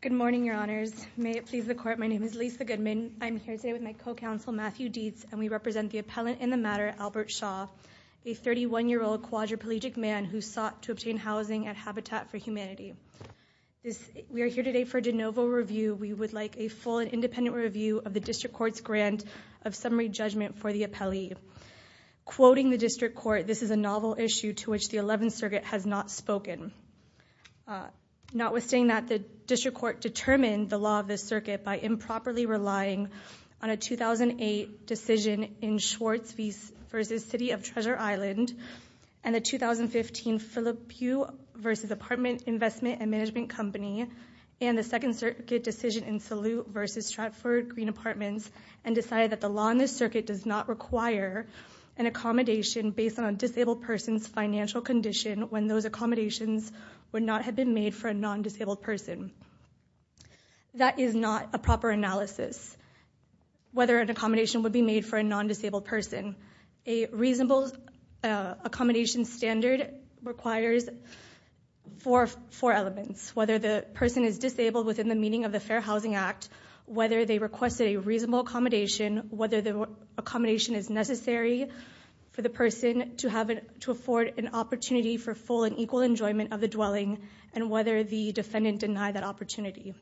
Good morning, Your Honors. May it please the Court, my name is Lisa Goodman. I'm here today with my co-counsel, Matthew Dietz, and we represent the appellant in the matter, Albert Schaw, a 31-year-old quadriplegic man who sought to obtain housing at Habitat for Humanity. We are here today for a de novo review. We would like a full and independent review of the District Court's grant of summary judgment for the appellee. Quoting the District Court, this is a novel issue to which the 11th Circuit has not spoken. Notwithstanding that, the District Court determined the law of this circuit by improperly relying on a 2008 decision in Schwartz v. City of Treasure Island, and the 2015 Phillip Pugh v. Apartment Investment and Management Company, and the 2nd Circuit decision in Salute v. Stratford Green Apartments, and decided that the law in this circuit does not require an accommodation based on a disabled person's financial condition when those accommodations would not have been made for a non-disabled person. That is not a proper analysis, whether an accommodation would be made for a non-disabled person. A reasonable accommodation standard requires four elements. Whether the person is disabled within the meaning of the Fair Housing Act, whether they requested a reasonable accommodation, whether the accommodation is necessary for the person to afford an opportunity for full and equal enjoyment of the dwelling, and whether the defendant denied that opportunity.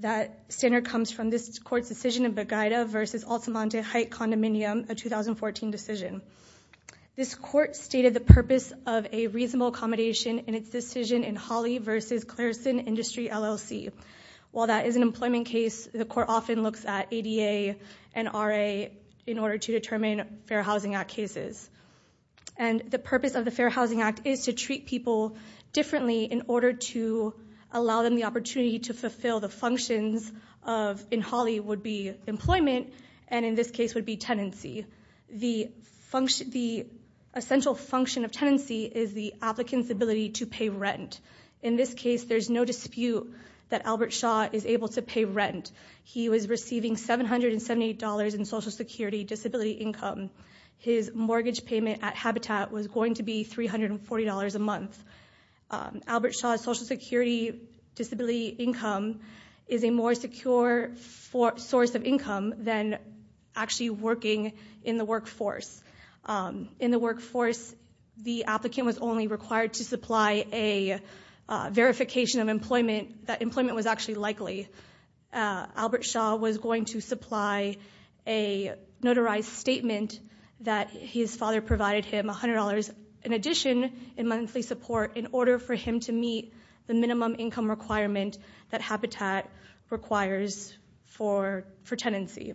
That standard comes from this court's decision in Beguida v. Altamonte Height Condominium, a 2014 decision. This court stated the purpose of a reasonable accommodation in its decision in Holley v. Clareson Industry LLC. While that is an employment case, the court often looks at ADA and RA in order to determine Fair Housing Act cases. And the purpose of the Fair Housing Act is to treat people differently in order to allow them the opportunity to fulfill the functions of, in Holley would be employment, and in this case would be tenancy. The essential function of tenancy is the applicant's ability to pay rent. In this case, there's no dispute that Albert Shaw is able to pay rent. He was receiving $778 in Social Security disability income. His mortgage payment at Habitat was going to be $340 a month. Albert Shaw's Social Security disability income is a more secure source of income than actually working in the workforce. In the workforce, the applicant was only required to supply a verification of employment that employment was actually likely. Albert Shaw was going to supply a notarized statement that his father provided him $100 in addition in monthly support in order for him to meet the minimum income requirement that Habitat requires for tenancy. Can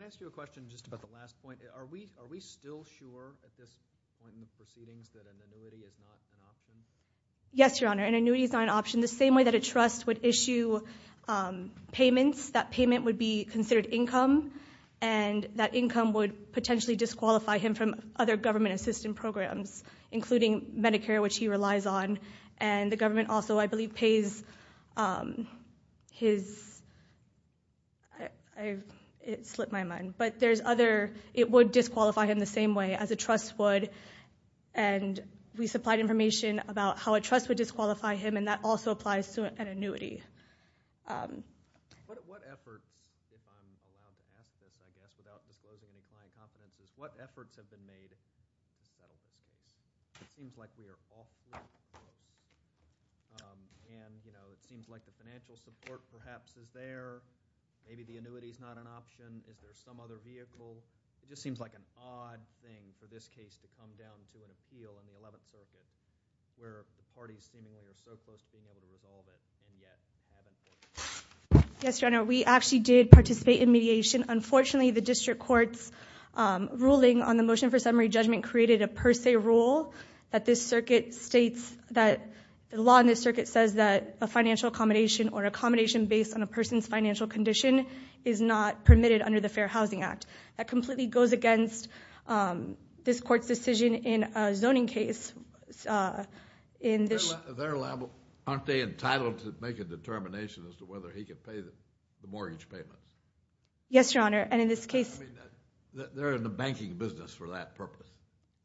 I ask you a question just about the last point? Are we still sure at this point in the proceedings that an annuity is not an option? Yes, Your Honor, an annuity is not an option. The same way that a trust would issue payments, that payment would be considered income, and that income would potentially disqualify him from other government assistance programs, including Medicare, which he relies on, and the government also, I believe, pays his... It slipped my mind, but there's other... It would disqualify him the same way as a trust would, and we supplied information about how a trust would disqualify him, and that also applies to an annuity. What efforts, if I'm allowed to ask this, I guess, about disclosing the client competencies, what efforts have been made that it seems like we are off-limits, and it seems like the financial support perhaps is there, maybe the annuity is not an option, is there some other vehicle? It just seems like an odd thing for this case to come down to an appeal in the 11th Circuit, where the parties seemingly are so close to being able to resolve it, and yet haven't been. Yes, Your Honor, we actually did participate in mediation. Unfortunately, the district court's ruling on the motion for summary judgment created a per se rule that this circuit states that the law in this circuit says that a financial accommodation or accommodation based on a person's financial condition is not permitted under the Fair Housing Act. That completely goes against this court's decision in a zoning case. Aren't they entitled to make a determination as to whether he can pay the mortgage payment? Yes, Your Honor, and in this case... They're in the banking business for that purpose.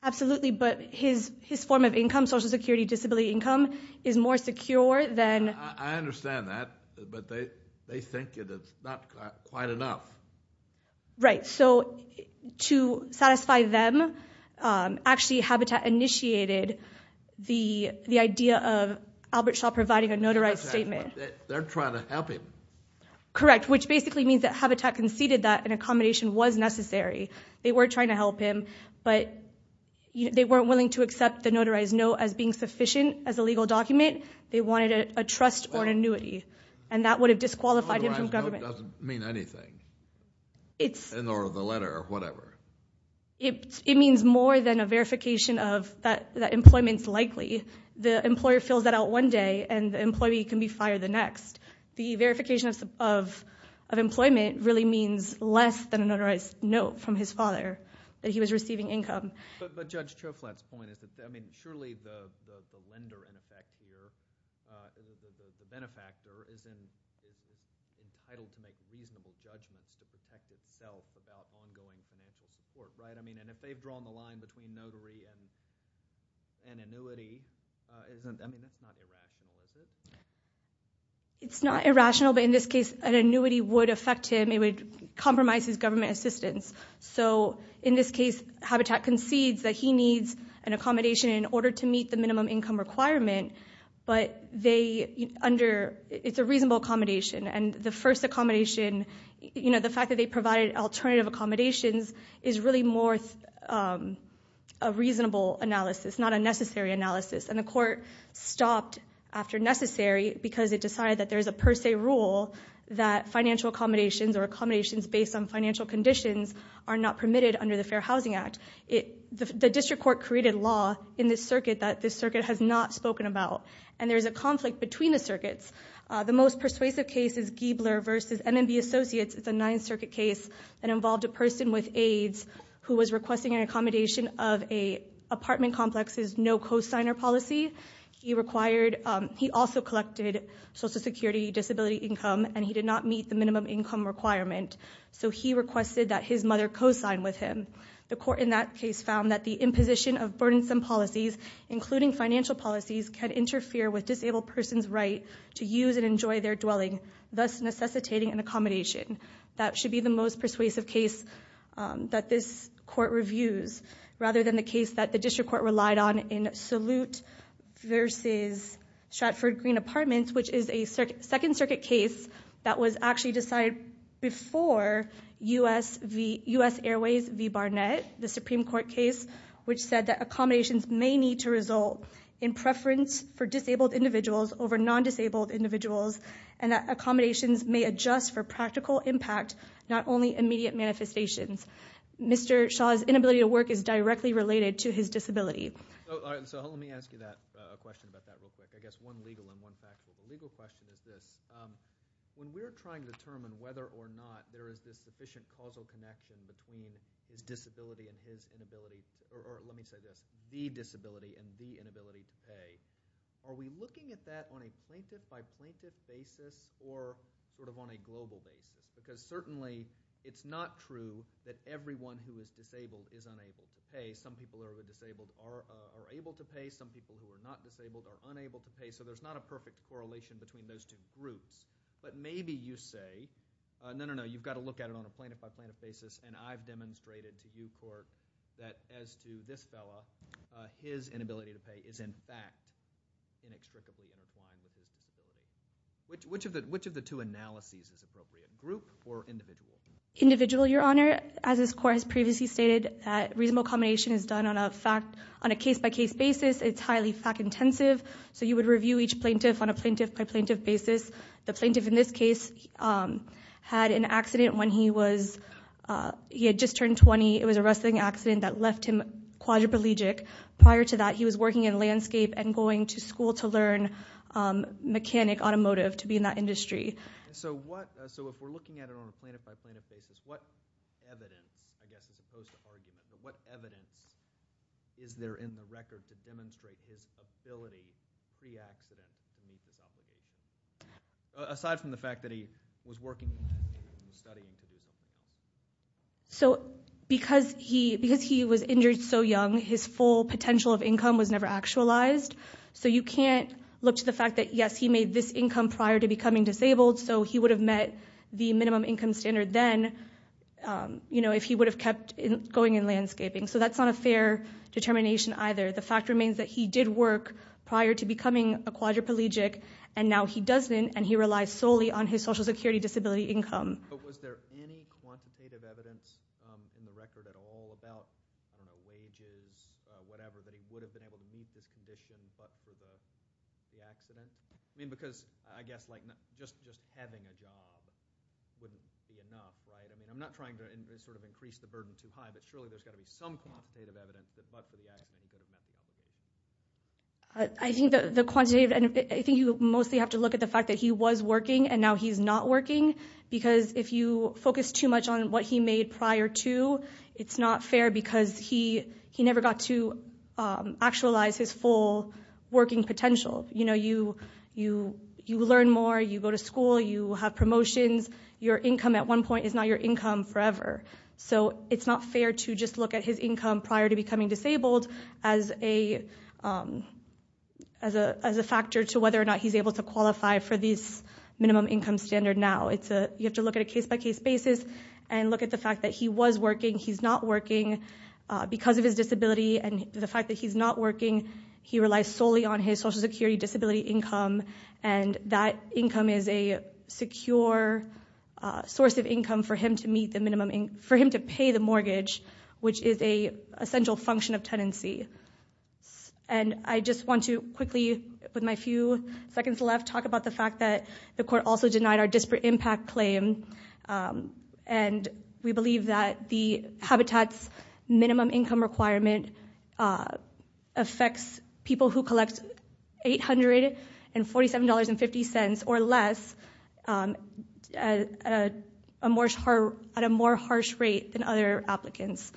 Absolutely, but his form of income, social security disability income, is more secure than... I understand that, but they think it is not quite enough. Right, so to satisfy them, actually Habitat initiated the idea of Albert Shaw providing a notarized statement. They're trying to help him. Correct, which basically means that Habitat conceded that an accommodation was necessary. They were trying to help him, but they weren't willing to accept the notarized note as being sufficient as a legal document. They wanted a trust or an annuity, and that would have disqualified him from government. The notarized note doesn't mean anything, nor the letter or whatever. It means more than a verification that employment is likely. The employer fills that out one day, and the employee can be fired the next. The verification of employment really means less than a notarized note from his father that he was receiving income. But Judge Choflat's point is that surely the lender in effect here, the benefactor, is entitled to make reasonable judgments to protect itself about ongoing financial support. If they've drawn the line between notary and annuity, that's not irrational, is it? It's not irrational, but in this case an annuity would affect him. It would compromise his government assistance. In this case, Habitat concedes that he needs an accommodation in order to meet the minimum income requirement, but it's a reasonable accommodation. The fact that they provided alternative accommodations is really more a reasonable analysis, not a necessary analysis. The court stopped after necessary because it decided that there is a per se rule that financial accommodations or accommodations based on financial conditions are not permitted under the Fair Housing Act. The district court created law in this circuit that this circuit has not spoken about, and there is a conflict between the circuits. The most persuasive case is Giebler v. M&B Associates. It's a Ninth Circuit case that involved a person with AIDS who was requesting an accommodation of an apartment complex's no-cosigner policy. He also collected Social Security disability income, and he did not meet the minimum income requirement, so he requested that his mother co-sign with him. The court in that case found that the imposition of burdensome policies, including financial policies, can interfere with disabled persons' right to use and enjoy their dwelling, thus necessitating an accommodation. That should be the most persuasive case that this court reviews, rather than the case that the district court relied on in Salute v. Stratford Green Apartments, which is a Second Circuit case that was actually decided before U.S. Airways v. Barnett, the Supreme Court case, which said that accommodations may need to result in preference for disabled individuals over non-disabled individuals, and that accommodations may adjust for practical impact, not only immediate manifestations. Mr. Shaw's inability to work is directly related to his disability. So let me ask you a question about that real quick. I guess one legal and one factual. The legal question is this. When we're trying to determine whether or not there is this sufficient causal connection between his disability and his inability, or let me say this, the disability and the inability to pay, are we looking at that on a plaintiff-by-plaintiff basis or sort of on a global basis? Because certainly it's not true that everyone who is disabled is unable to pay. Some people who are disabled are able to pay. Some people who are not disabled are unable to pay. So there's not a perfect correlation between those two groups. But maybe you say, no, no, no, you've got to look at it on a plaintiff-by-plaintiff basis, and I've demonstrated to you, court, that as to this fellow, his inability to pay is in fact inextricably intertwined with his disability. Which of the two analyses is appropriate, group or individual? Individual, Your Honor. As this court has previously stated, reasonable combination is done on a case-by-case basis. It's highly fact-intensive. So you would review each plaintiff on a plaintiff-by-plaintiff basis. The plaintiff in this case had an accident when he had just turned 20. It was a wrestling accident that left him quadriplegic. Prior to that, he was working in landscape and going to school to learn mechanic automotive to be in that industry. So if we're looking at it on a plaintiff-by-plaintiff basis, what evidence, I guess as opposed to arguing, but what evidence is there in the record to demonstrate his ability pre-accident to meet his obligations? Aside from the fact that he was working in landscape and was studying to be a mechanic. So because he was injured so young, his full potential of income was never actualized. So you can't look to the fact that, yes, he made this income prior to becoming disabled, so he would have met the minimum income standard then if he would have kept going in landscaping. So that's not a fair determination either. The fact remains that he did work prior to becoming a quadriplegic, and now he doesn't, and he relies solely on his Social Security disability income. But was there any quantitative evidence in the record at all about wages, whatever, that he would have been able to meet this condition but for the accident? I mean, because I guess just having a job wouldn't be enough, right? I mean, I'm not trying to sort of increase the burden too high, but surely there's got to be some quantitative evidence that but for the accident he could have met the minimum. I think the quantitative, and I think you mostly have to look at the fact that he was working, and now he's not working because if you focus too much on what he made prior to, it's not fair because he never got to actualize his full working potential. You know, you learn more, you go to school, you have promotions. Your income at one point is not your income forever. So it's not fair to just look at his income prior to becoming disabled as a factor to whether or not he's able to qualify for this minimum income standard now. You have to look at a case-by-case basis and look at the fact that he was working, he's not working because of his disability, and the fact that he's not working, he relies solely on his Social Security disability income, and that income is a secure source of income for him to pay the mortgage, which is an essential function of tenancy. And I just want to quickly, with my few seconds left, talk about the fact that the court also denied our disparate impact claim, and we believe that the Habitat's minimum income requirement affects people who collect $847.50 or less at a more harsh rate than other applicants.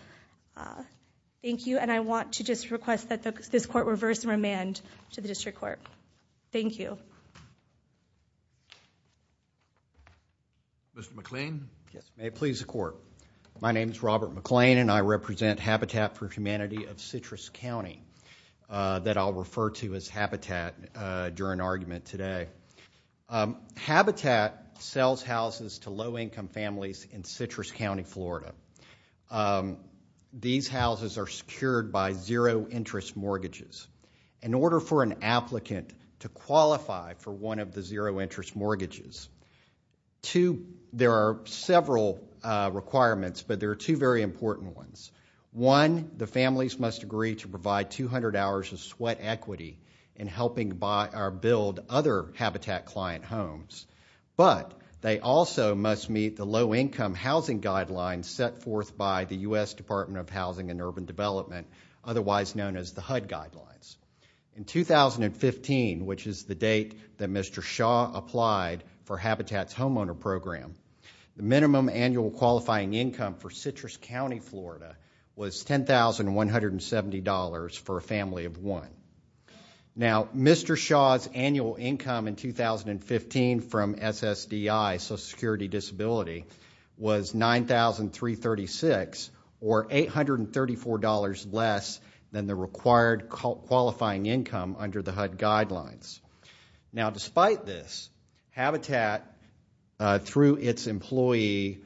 Thank you, and I want to just request that this court reverse remand to the district court. Thank you. Mr. McLean? May it please the court. My name is Robert McLean, and I represent Habitat for Humanity of Citrus County that I'll refer to as Habitat during argument today. Habitat sells houses to low-income families in Citrus County, Florida. These houses are secured by zero-interest mortgages. In order for an applicant to qualify for one of the zero-interest mortgages, there are several requirements, but there are two very important ones. One, the families must agree to provide 200 hours of sweat equity in helping build other Habitat client homes, but they also must meet the low-income housing guidelines set forth by the U.S. Department of Housing and Urban Development, otherwise known as the HUD guidelines. In 2015, which is the date that Mr. Shaw applied for Habitat's homeowner program, the minimum annual qualifying income for Citrus County, Florida, was $10,170 for a family of one. Now, Mr. Shaw's annual income in 2015 from SSDI, Social Security Disability, was $9,336, or $834 less than the required qualifying income under the HUD guidelines. Now, despite this, Habitat, through its employee,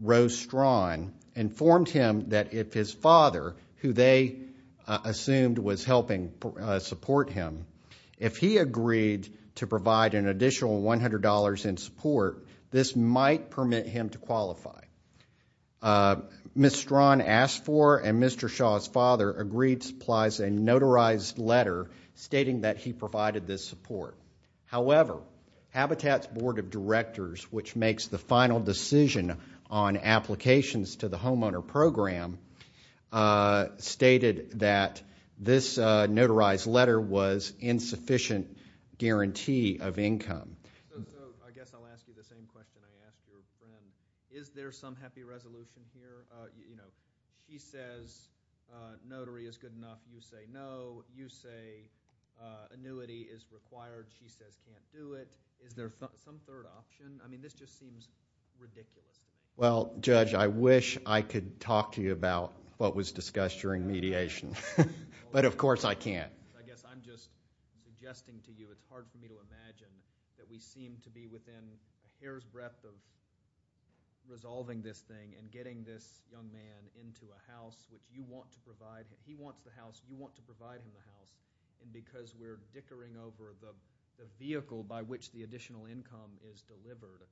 Rose Strawn, informed him that if his father, who they assumed was helping support him, if he agreed to provide an additional $100 in support, this might permit him to qualify. Ms. Strawn asked for, and Mr. Shaw's father agreed, Ms. Strawn supplies a notarized letter stating that he provided this support. However, Habitat's board of directors, which makes the final decision on applications to the homeowner program, stated that this notarized letter was insufficient guarantee of income. I guess I'll ask you the same question I asked your friend. Is there some happy resolution here? He says notary is good enough. You say no. You say annuity is required. She says can't do it. Is there some third option? I mean, this just seems ridiculous. Well, Judge, I wish I could talk to you about what was discussed during mediation, but of course I can't. I guess I'm just suggesting to you, it's hard for me to imagine, that we seem to be within a hair's breadth of resolving this thing and getting this young man into a house that you want to provide him. He wants the house. You want to provide him the house. And because we're dickering over the vehicle by which the additional income is delivered,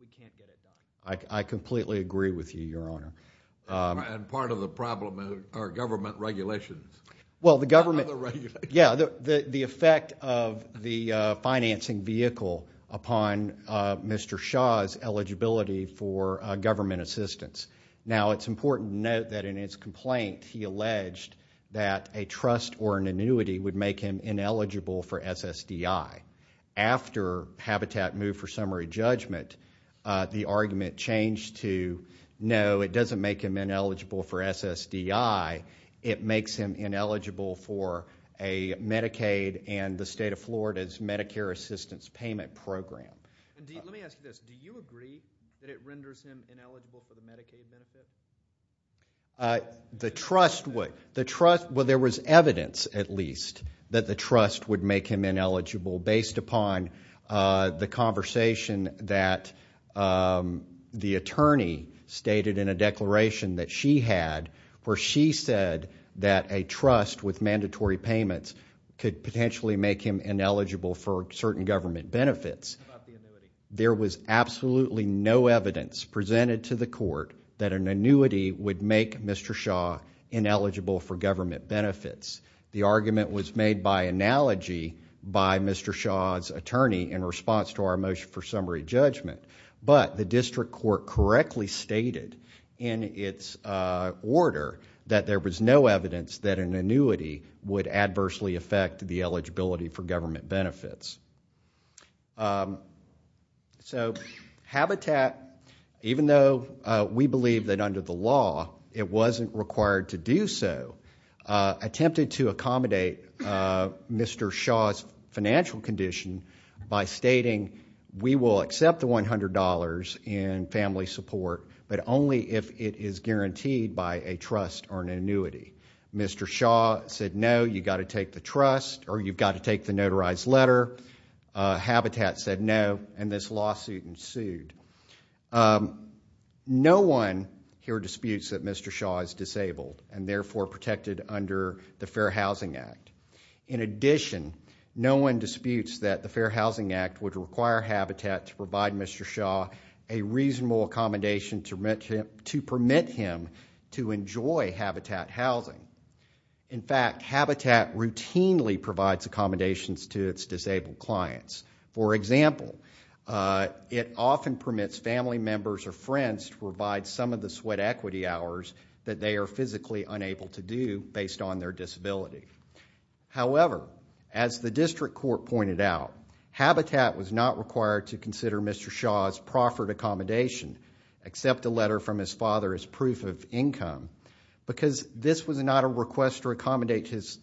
we can't get it done. I completely agree with you, Your Honor. And part of the problem are government regulations. Well, the government, yeah, the effect of the financing vehicle upon Mr. Shaw's eligibility for government assistance. Now, it's important to note that in his complaint, he alleged that a trust or an annuity would make him ineligible for SSDI. After Habitat moved for summary judgment, the argument changed to, no, it doesn't make him ineligible for SSDI. It makes him ineligible for a Medicaid and the State of Florida's Medicare Assistance Payment Program. Let me ask you this. Do you agree that it renders him ineligible for the Medicaid benefit? The trust would. Well, there was evidence, at least, that the trust would make him ineligible based upon the conversation that the attorney stated in a declaration that she had where she said that a trust with mandatory payments could potentially make him ineligible for certain government benefits. There was absolutely no evidence presented to the court that an annuity would make Mr. Shaw ineligible for government benefits. The argument was made by analogy by Mr. Shaw's attorney in response to our motion for summary judgment. The district court correctly stated in its order that there was no evidence that an annuity would adversely affect the eligibility for government benefits. Habitat, even though we believe that under the law, it wasn't required to do so, attempted to accommodate Mr. Shaw's financial condition by stating we will accept the $100 in family support but only if it is guaranteed by a trust or an annuity. Mr. Shaw said no, you've got to take the trust or you've got to take the notarized letter. Habitat said no, and this lawsuit ensued. No one here disputes that Mr. Shaw is disabled and therefore protected under the Fair Housing Act. In addition, no one disputes that the Fair Housing Act would require Habitat to provide Mr. Shaw a reasonable accommodation to permit him to enjoy Habitat housing. In fact, Habitat routinely provides accommodations to its disabled clients. For example, it often permits family members or friends to provide some of the sweat equity hours that they are physically unable to do based on their disability. However, as the district court pointed out, Habitat was not required to consider Mr. Shaw's proffered accommodation, except a letter from his father as proof of income, because this was not a request to accommodate his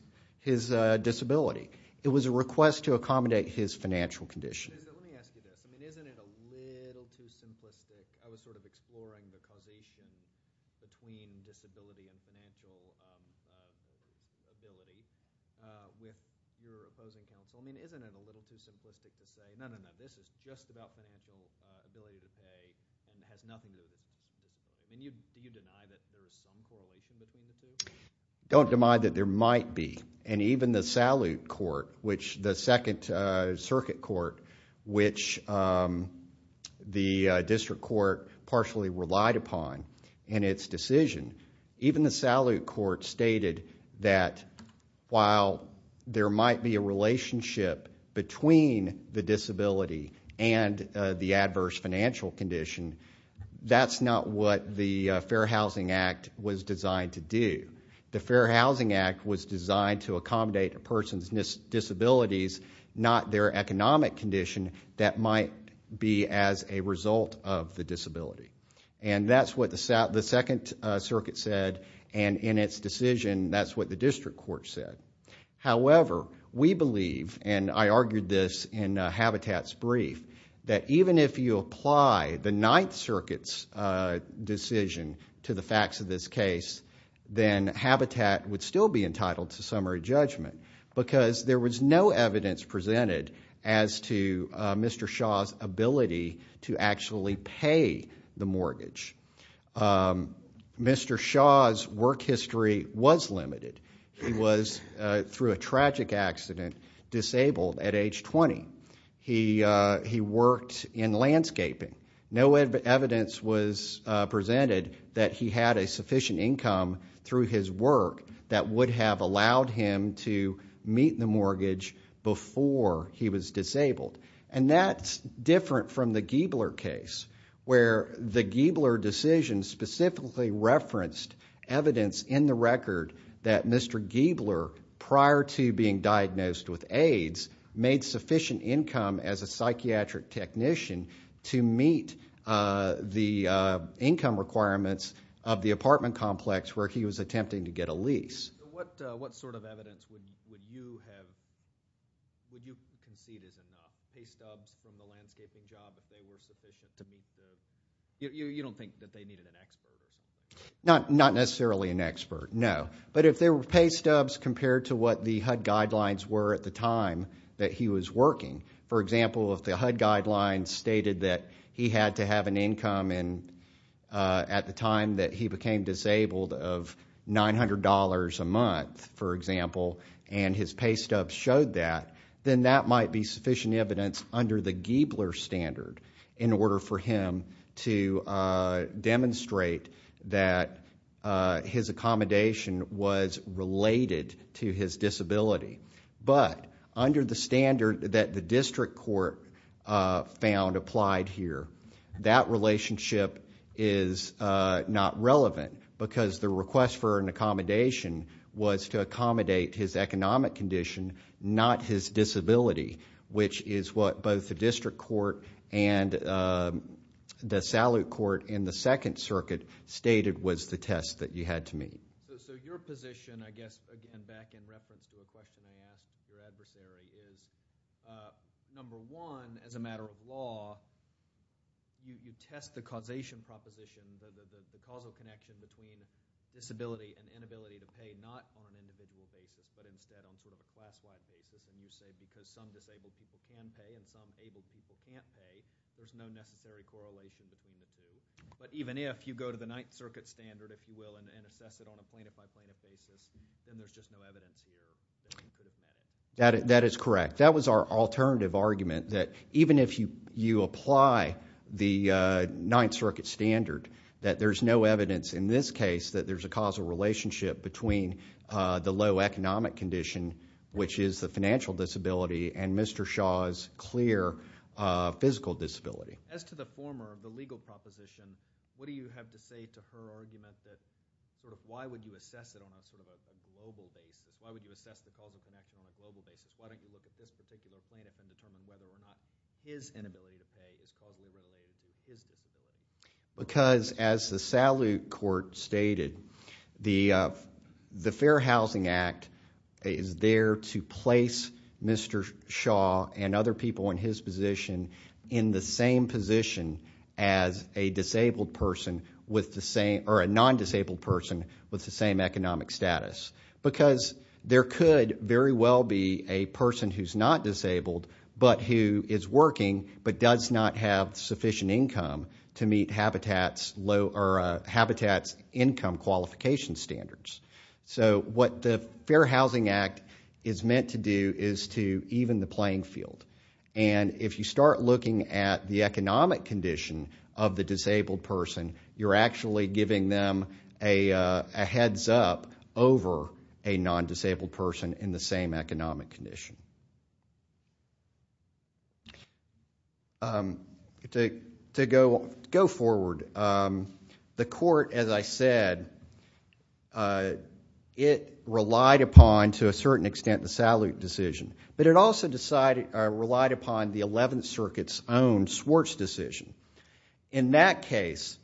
disability. It was a request to accommodate his financial condition. Let me ask you this. I mean, isn't it a little too simplistic? I was sort of exploring the correlation between disability and financial ability with your opposing counsel. I mean, isn't it a little too simplistic to say, no, no, no, this is just about financial ability to pay and it has nothing to do with disability. Can you deny that there is some correlation between the two? Don't deny that there might be. And even the Salute Court, which the second circuit court, which the district court partially relied upon in its decision, even the Salute Court stated that while there might be a relationship between the disability and the adverse financial condition, that's not what the Fair Housing Act was designed to do. The Fair Housing Act was designed to accommodate a person's disabilities, not their economic condition that might be as a result of the disability. And that's what the second circuit said, and in its decision that's what the district court said. However, we believe, and I argued this in Habitat's brief, that even if you apply the ninth circuit's decision to the facts of this case, then Habitat would still be entitled to summary judgment because there was no evidence presented as to Mr. Shaw's ability to actually pay the mortgage. Mr. Shaw's work history was limited. He was, through a tragic accident, disabled at age 20. He worked in landscaping. No evidence was presented that he had a sufficient income through his work that would have allowed him to meet the mortgage before he was disabled. And that's different from the Giebler case, where the Giebler decision specifically referenced evidence in the record that Mr. Giebler, prior to being diagnosed with AIDS, made sufficient income as a psychiatric technician to meet the income requirements of the apartment complex where he was attempting to get a lease. Not necessarily an expert, no. But if there were pay stubs compared to what the HUD guidelines were at the time that he was working, for example, if the HUD guidelines stated that he had to have an income at the time that he became disabled of $900 a month, for example, and his pay stub showed that, then that might be sufficient evidence under the Giebler standard in order for him to demonstrate that his accommodation was related to his disability. But under the standard that the district court found applied here, that relationship is not relevant because the request for an accommodation was to accommodate his economic condition, not his disability, which is what both the district court and the salute court in the Second Circuit stated was the test that you had to meet. So your position, I guess, again, back in reference to a question I asked your adversary, is number one, as a matter of law, you test the causation proposition, the causal connection between disability and inability to pay, not on an individual basis, but instead on sort of a class-wide basis. And you said because some disabled people can pay and some able people can't pay, there's no necessary correlation between the two. But even if you go to the Ninth Circuit standard, if you will, and assess it on a plaintiff-by-plaintiff basis, then there's just no evidence here. That is correct. That was our alternative argument, that even if you apply the Ninth Circuit standard, that there's no evidence in this case that there's a causal relationship between the low economic condition, which is the financial disability, and Mr. Shaw's clear physical disability. As to the former, the legal proposition, what do you have to say to her argument that sort of why would you assess it on sort of a global basis? Why would you assess the causal connection on a global basis? Why don't you look at this particular plaintiff and determine whether or not his inability to pay is caused by his disability? Because as the Salute Court stated, the Fair Housing Act is there to place Mr. Shaw and other people in his position in the same position as a disabled person or a non-disabled person with the same economic status. Because there could very well be a person who's not disabled but who is working but does not have sufficient income to meet Habitat's income qualification standards. So what the Fair Housing Act is meant to do is to even the playing field. And if you start looking at the economic condition of the disabled person, you're actually giving them a heads up over a non-disabled person in the same economic condition. To go forward, the court, as I said, it relied upon to a certain extent the Salute decision. But it also relied upon the Eleventh Circuit's own Swartz decision. In that case,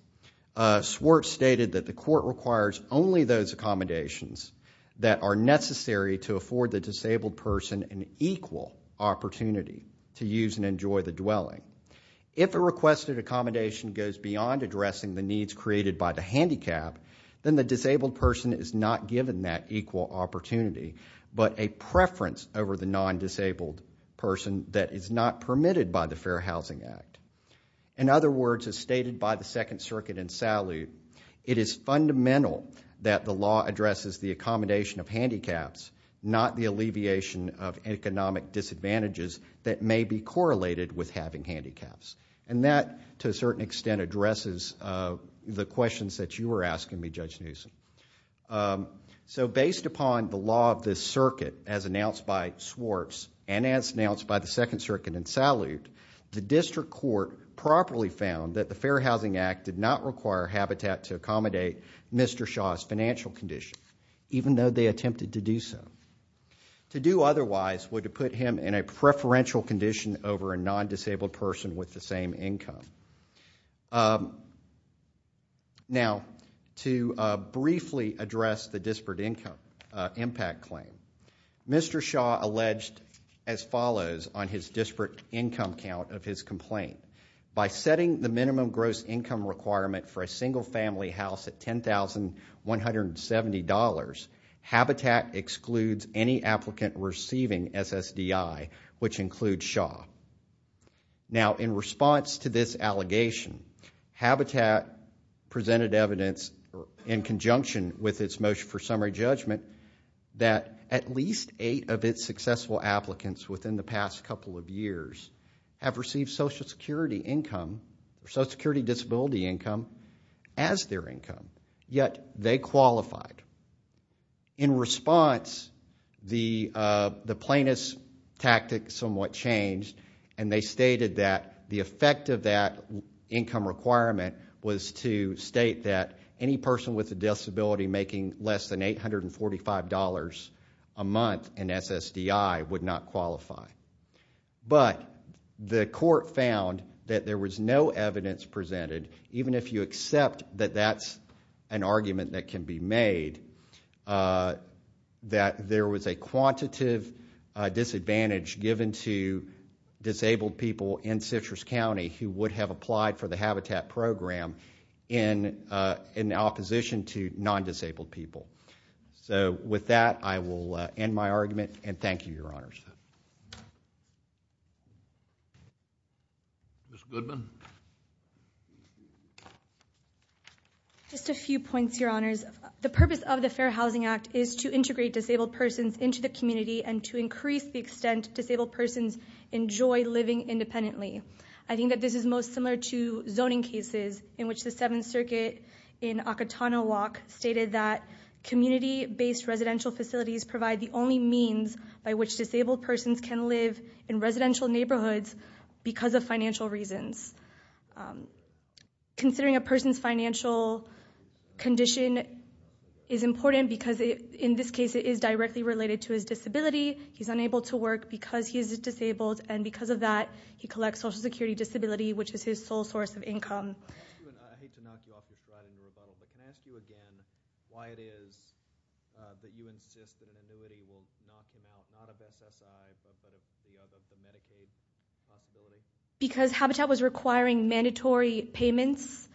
Swartz stated that the court requires only those accommodations that are necessary to afford the disabled person an equal opportunity to use and enjoy the dwelling. If a requested accommodation goes beyond addressing the needs created by the handicap, then the disabled person is not given that equal opportunity but a preference over the non-disabled person that is not permitted by the Fair Housing Act. In other words, as stated by the Second Circuit in Salute, it is fundamental that the law addresses the accommodation of handicaps, not the alleviation of economic disadvantages that may be correlated with having handicaps. And that, to a certain extent, addresses the questions that you were asking me, Judge Newsom. So based upon the law of this circuit, as announced by Swartz the district court properly found that the Fair Housing Act did not require Habitat to accommodate Mr. Shaw's financial conditions, even though they attempted to do so. To do otherwise would have put him in a preferential condition over a non-disabled person with the same income. Now, to briefly address the disparate impact claim, Mr. Shaw alleged as follows on his disparate income count of his complaint. By setting the minimum gross income requirement for a single family house at $10,170, Habitat excludes any applicant receiving SSDI, which includes Shaw. Now, in response to this allegation, Habitat presented evidence in conjunction with its motion for summary judgment that at least eight of its successful applicants within the past couple of years have received SSDI as their income, yet they qualified. In response, the plaintiff's tactic somewhat changed, and they stated that the effect of that income requirement was to state that any person with a disability making less than $845 a month in SSDI would not qualify. But the court found that there was no evidence presented, even if you accept that that's an argument that can be made, that there was a quantitative disadvantage given to disabled people in Citrus County who would have applied for the Habitat program in opposition to non-disabled people. So with that, I will end my argument, and thank you, Your Honors. Ms. Goodman? Just a few points, Your Honors. The purpose of the Fair Housing Act is to integrate disabled persons into the community and to increase the extent disabled persons enjoy living independently. I think that this is most similar to zoning cases, in which the Seventh Circuit in Ocotano Walk stated that community-based residential facilities provide the only means by which disabled persons can live in residential neighborhoods because of financial reasons. Considering a person's financial condition is important because, in this case, it is directly related to his disability. He's unable to work because he is disabled, and because of that, he collects Social Security disability, which is his sole source of income. I hate to knock you off your slide in your rebuttal, but can I ask you again why it is that you insist that an annuity will not come out, not of SSI, but of the Medicaid possibility? Because Habitat was requiring mandatory payments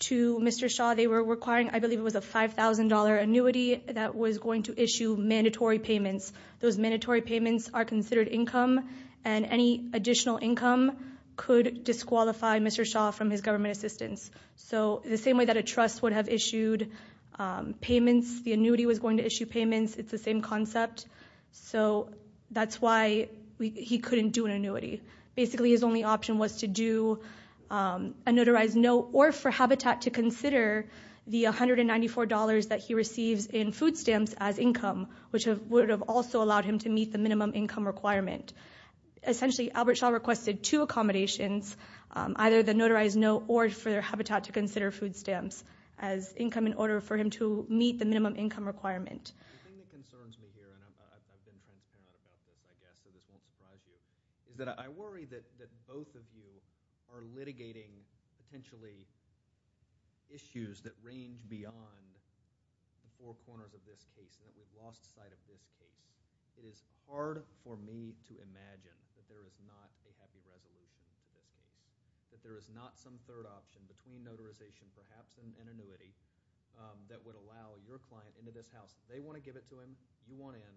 to Mr. Shaw. They were requiring, I believe it was a $5,000 annuity that was going to issue mandatory payments. Those mandatory payments are considered income, and any additional income could disqualify Mr. Shaw from his government assistance. So the same way that a trust would have issued payments, the annuity was going to issue payments, it's the same concept. So that's why he couldn't do an annuity. Basically, his only option was to do a notarized note or for Habitat to consider the $194 that he receives in food stamps as income, which would have also allowed him to meet the minimum income requirement. Essentially, Albert Shaw requested two accommodations, either the notarized note or for Habitat to consider food stamps as income in order for him to meet the minimum income requirement. The thing that concerns me here, and I've been thinking about this, I guess, it won't surprise you, is that I worry that both of you are litigating potentially issues that range beyond the four corners of this case, that we've lost sight of this case. It is hard for me to imagine that there is not a happy resolution here, that there is not some third option between notarization perhaps and an annuity that would allow your client into this house. They want to give it to him, you want in.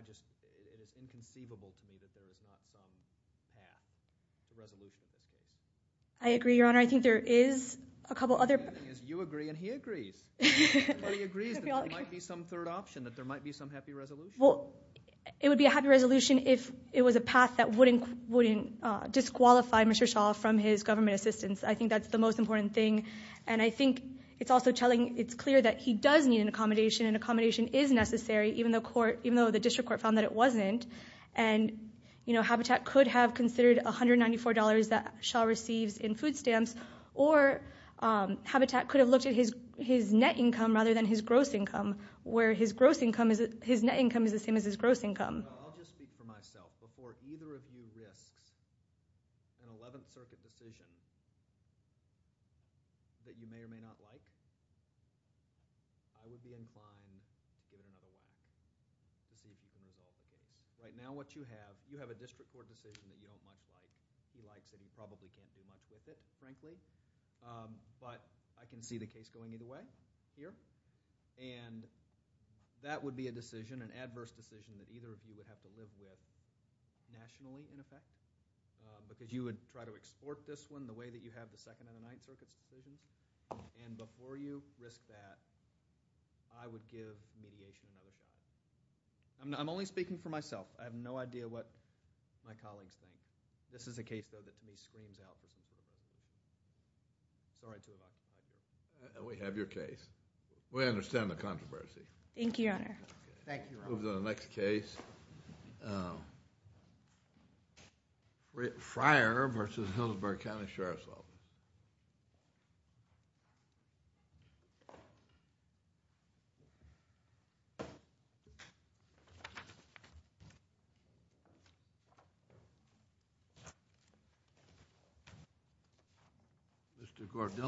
It is inconceivable to me that there is not some path to resolution. I agree, Your Honor. I think there is a couple other— You agree and he agrees. Everybody agrees that there might be some third option, that there might be some happy resolution. Well, it would be a happy resolution if it was a path that wouldn't disqualify Mr. Shaw from his government assistance. I think that's the most important thing. And I think it's also telling—it's clear that he does need an accommodation, and accommodation is necessary, even though the district court found that it wasn't. And Habitat could have considered $194 that Shaw receives in food stamps, or Habitat could have looked at his net income rather than his gross income, where his net income is the same as his gross income. I'll just speak for myself. Before either of you risks an 11th Circuit decision that you may or may not like, I would be inclined to get involved in a decision that you don't like. Right now what you have, you have a district court decision that you don't like. He likes it. He probably can't do much with it, frankly. But I can see the case going either way here. And that would be a decision, an adverse decision, that either of you would have to live with nationally, in effect, because you would try to extort this one the way that you have the 2nd and the 9th Circuit's decision. And before you risk that, I would give mediation another chance. I'm only speaking for myself. I have no idea what my colleagues think. This is a case, though, that for me screams out this decision. Sorry to interrupt. We have your case. We understand the controversy. Thank you, Your Honor. Thank you, Your Honor. We'll go to the next case. Mr. Gordillo.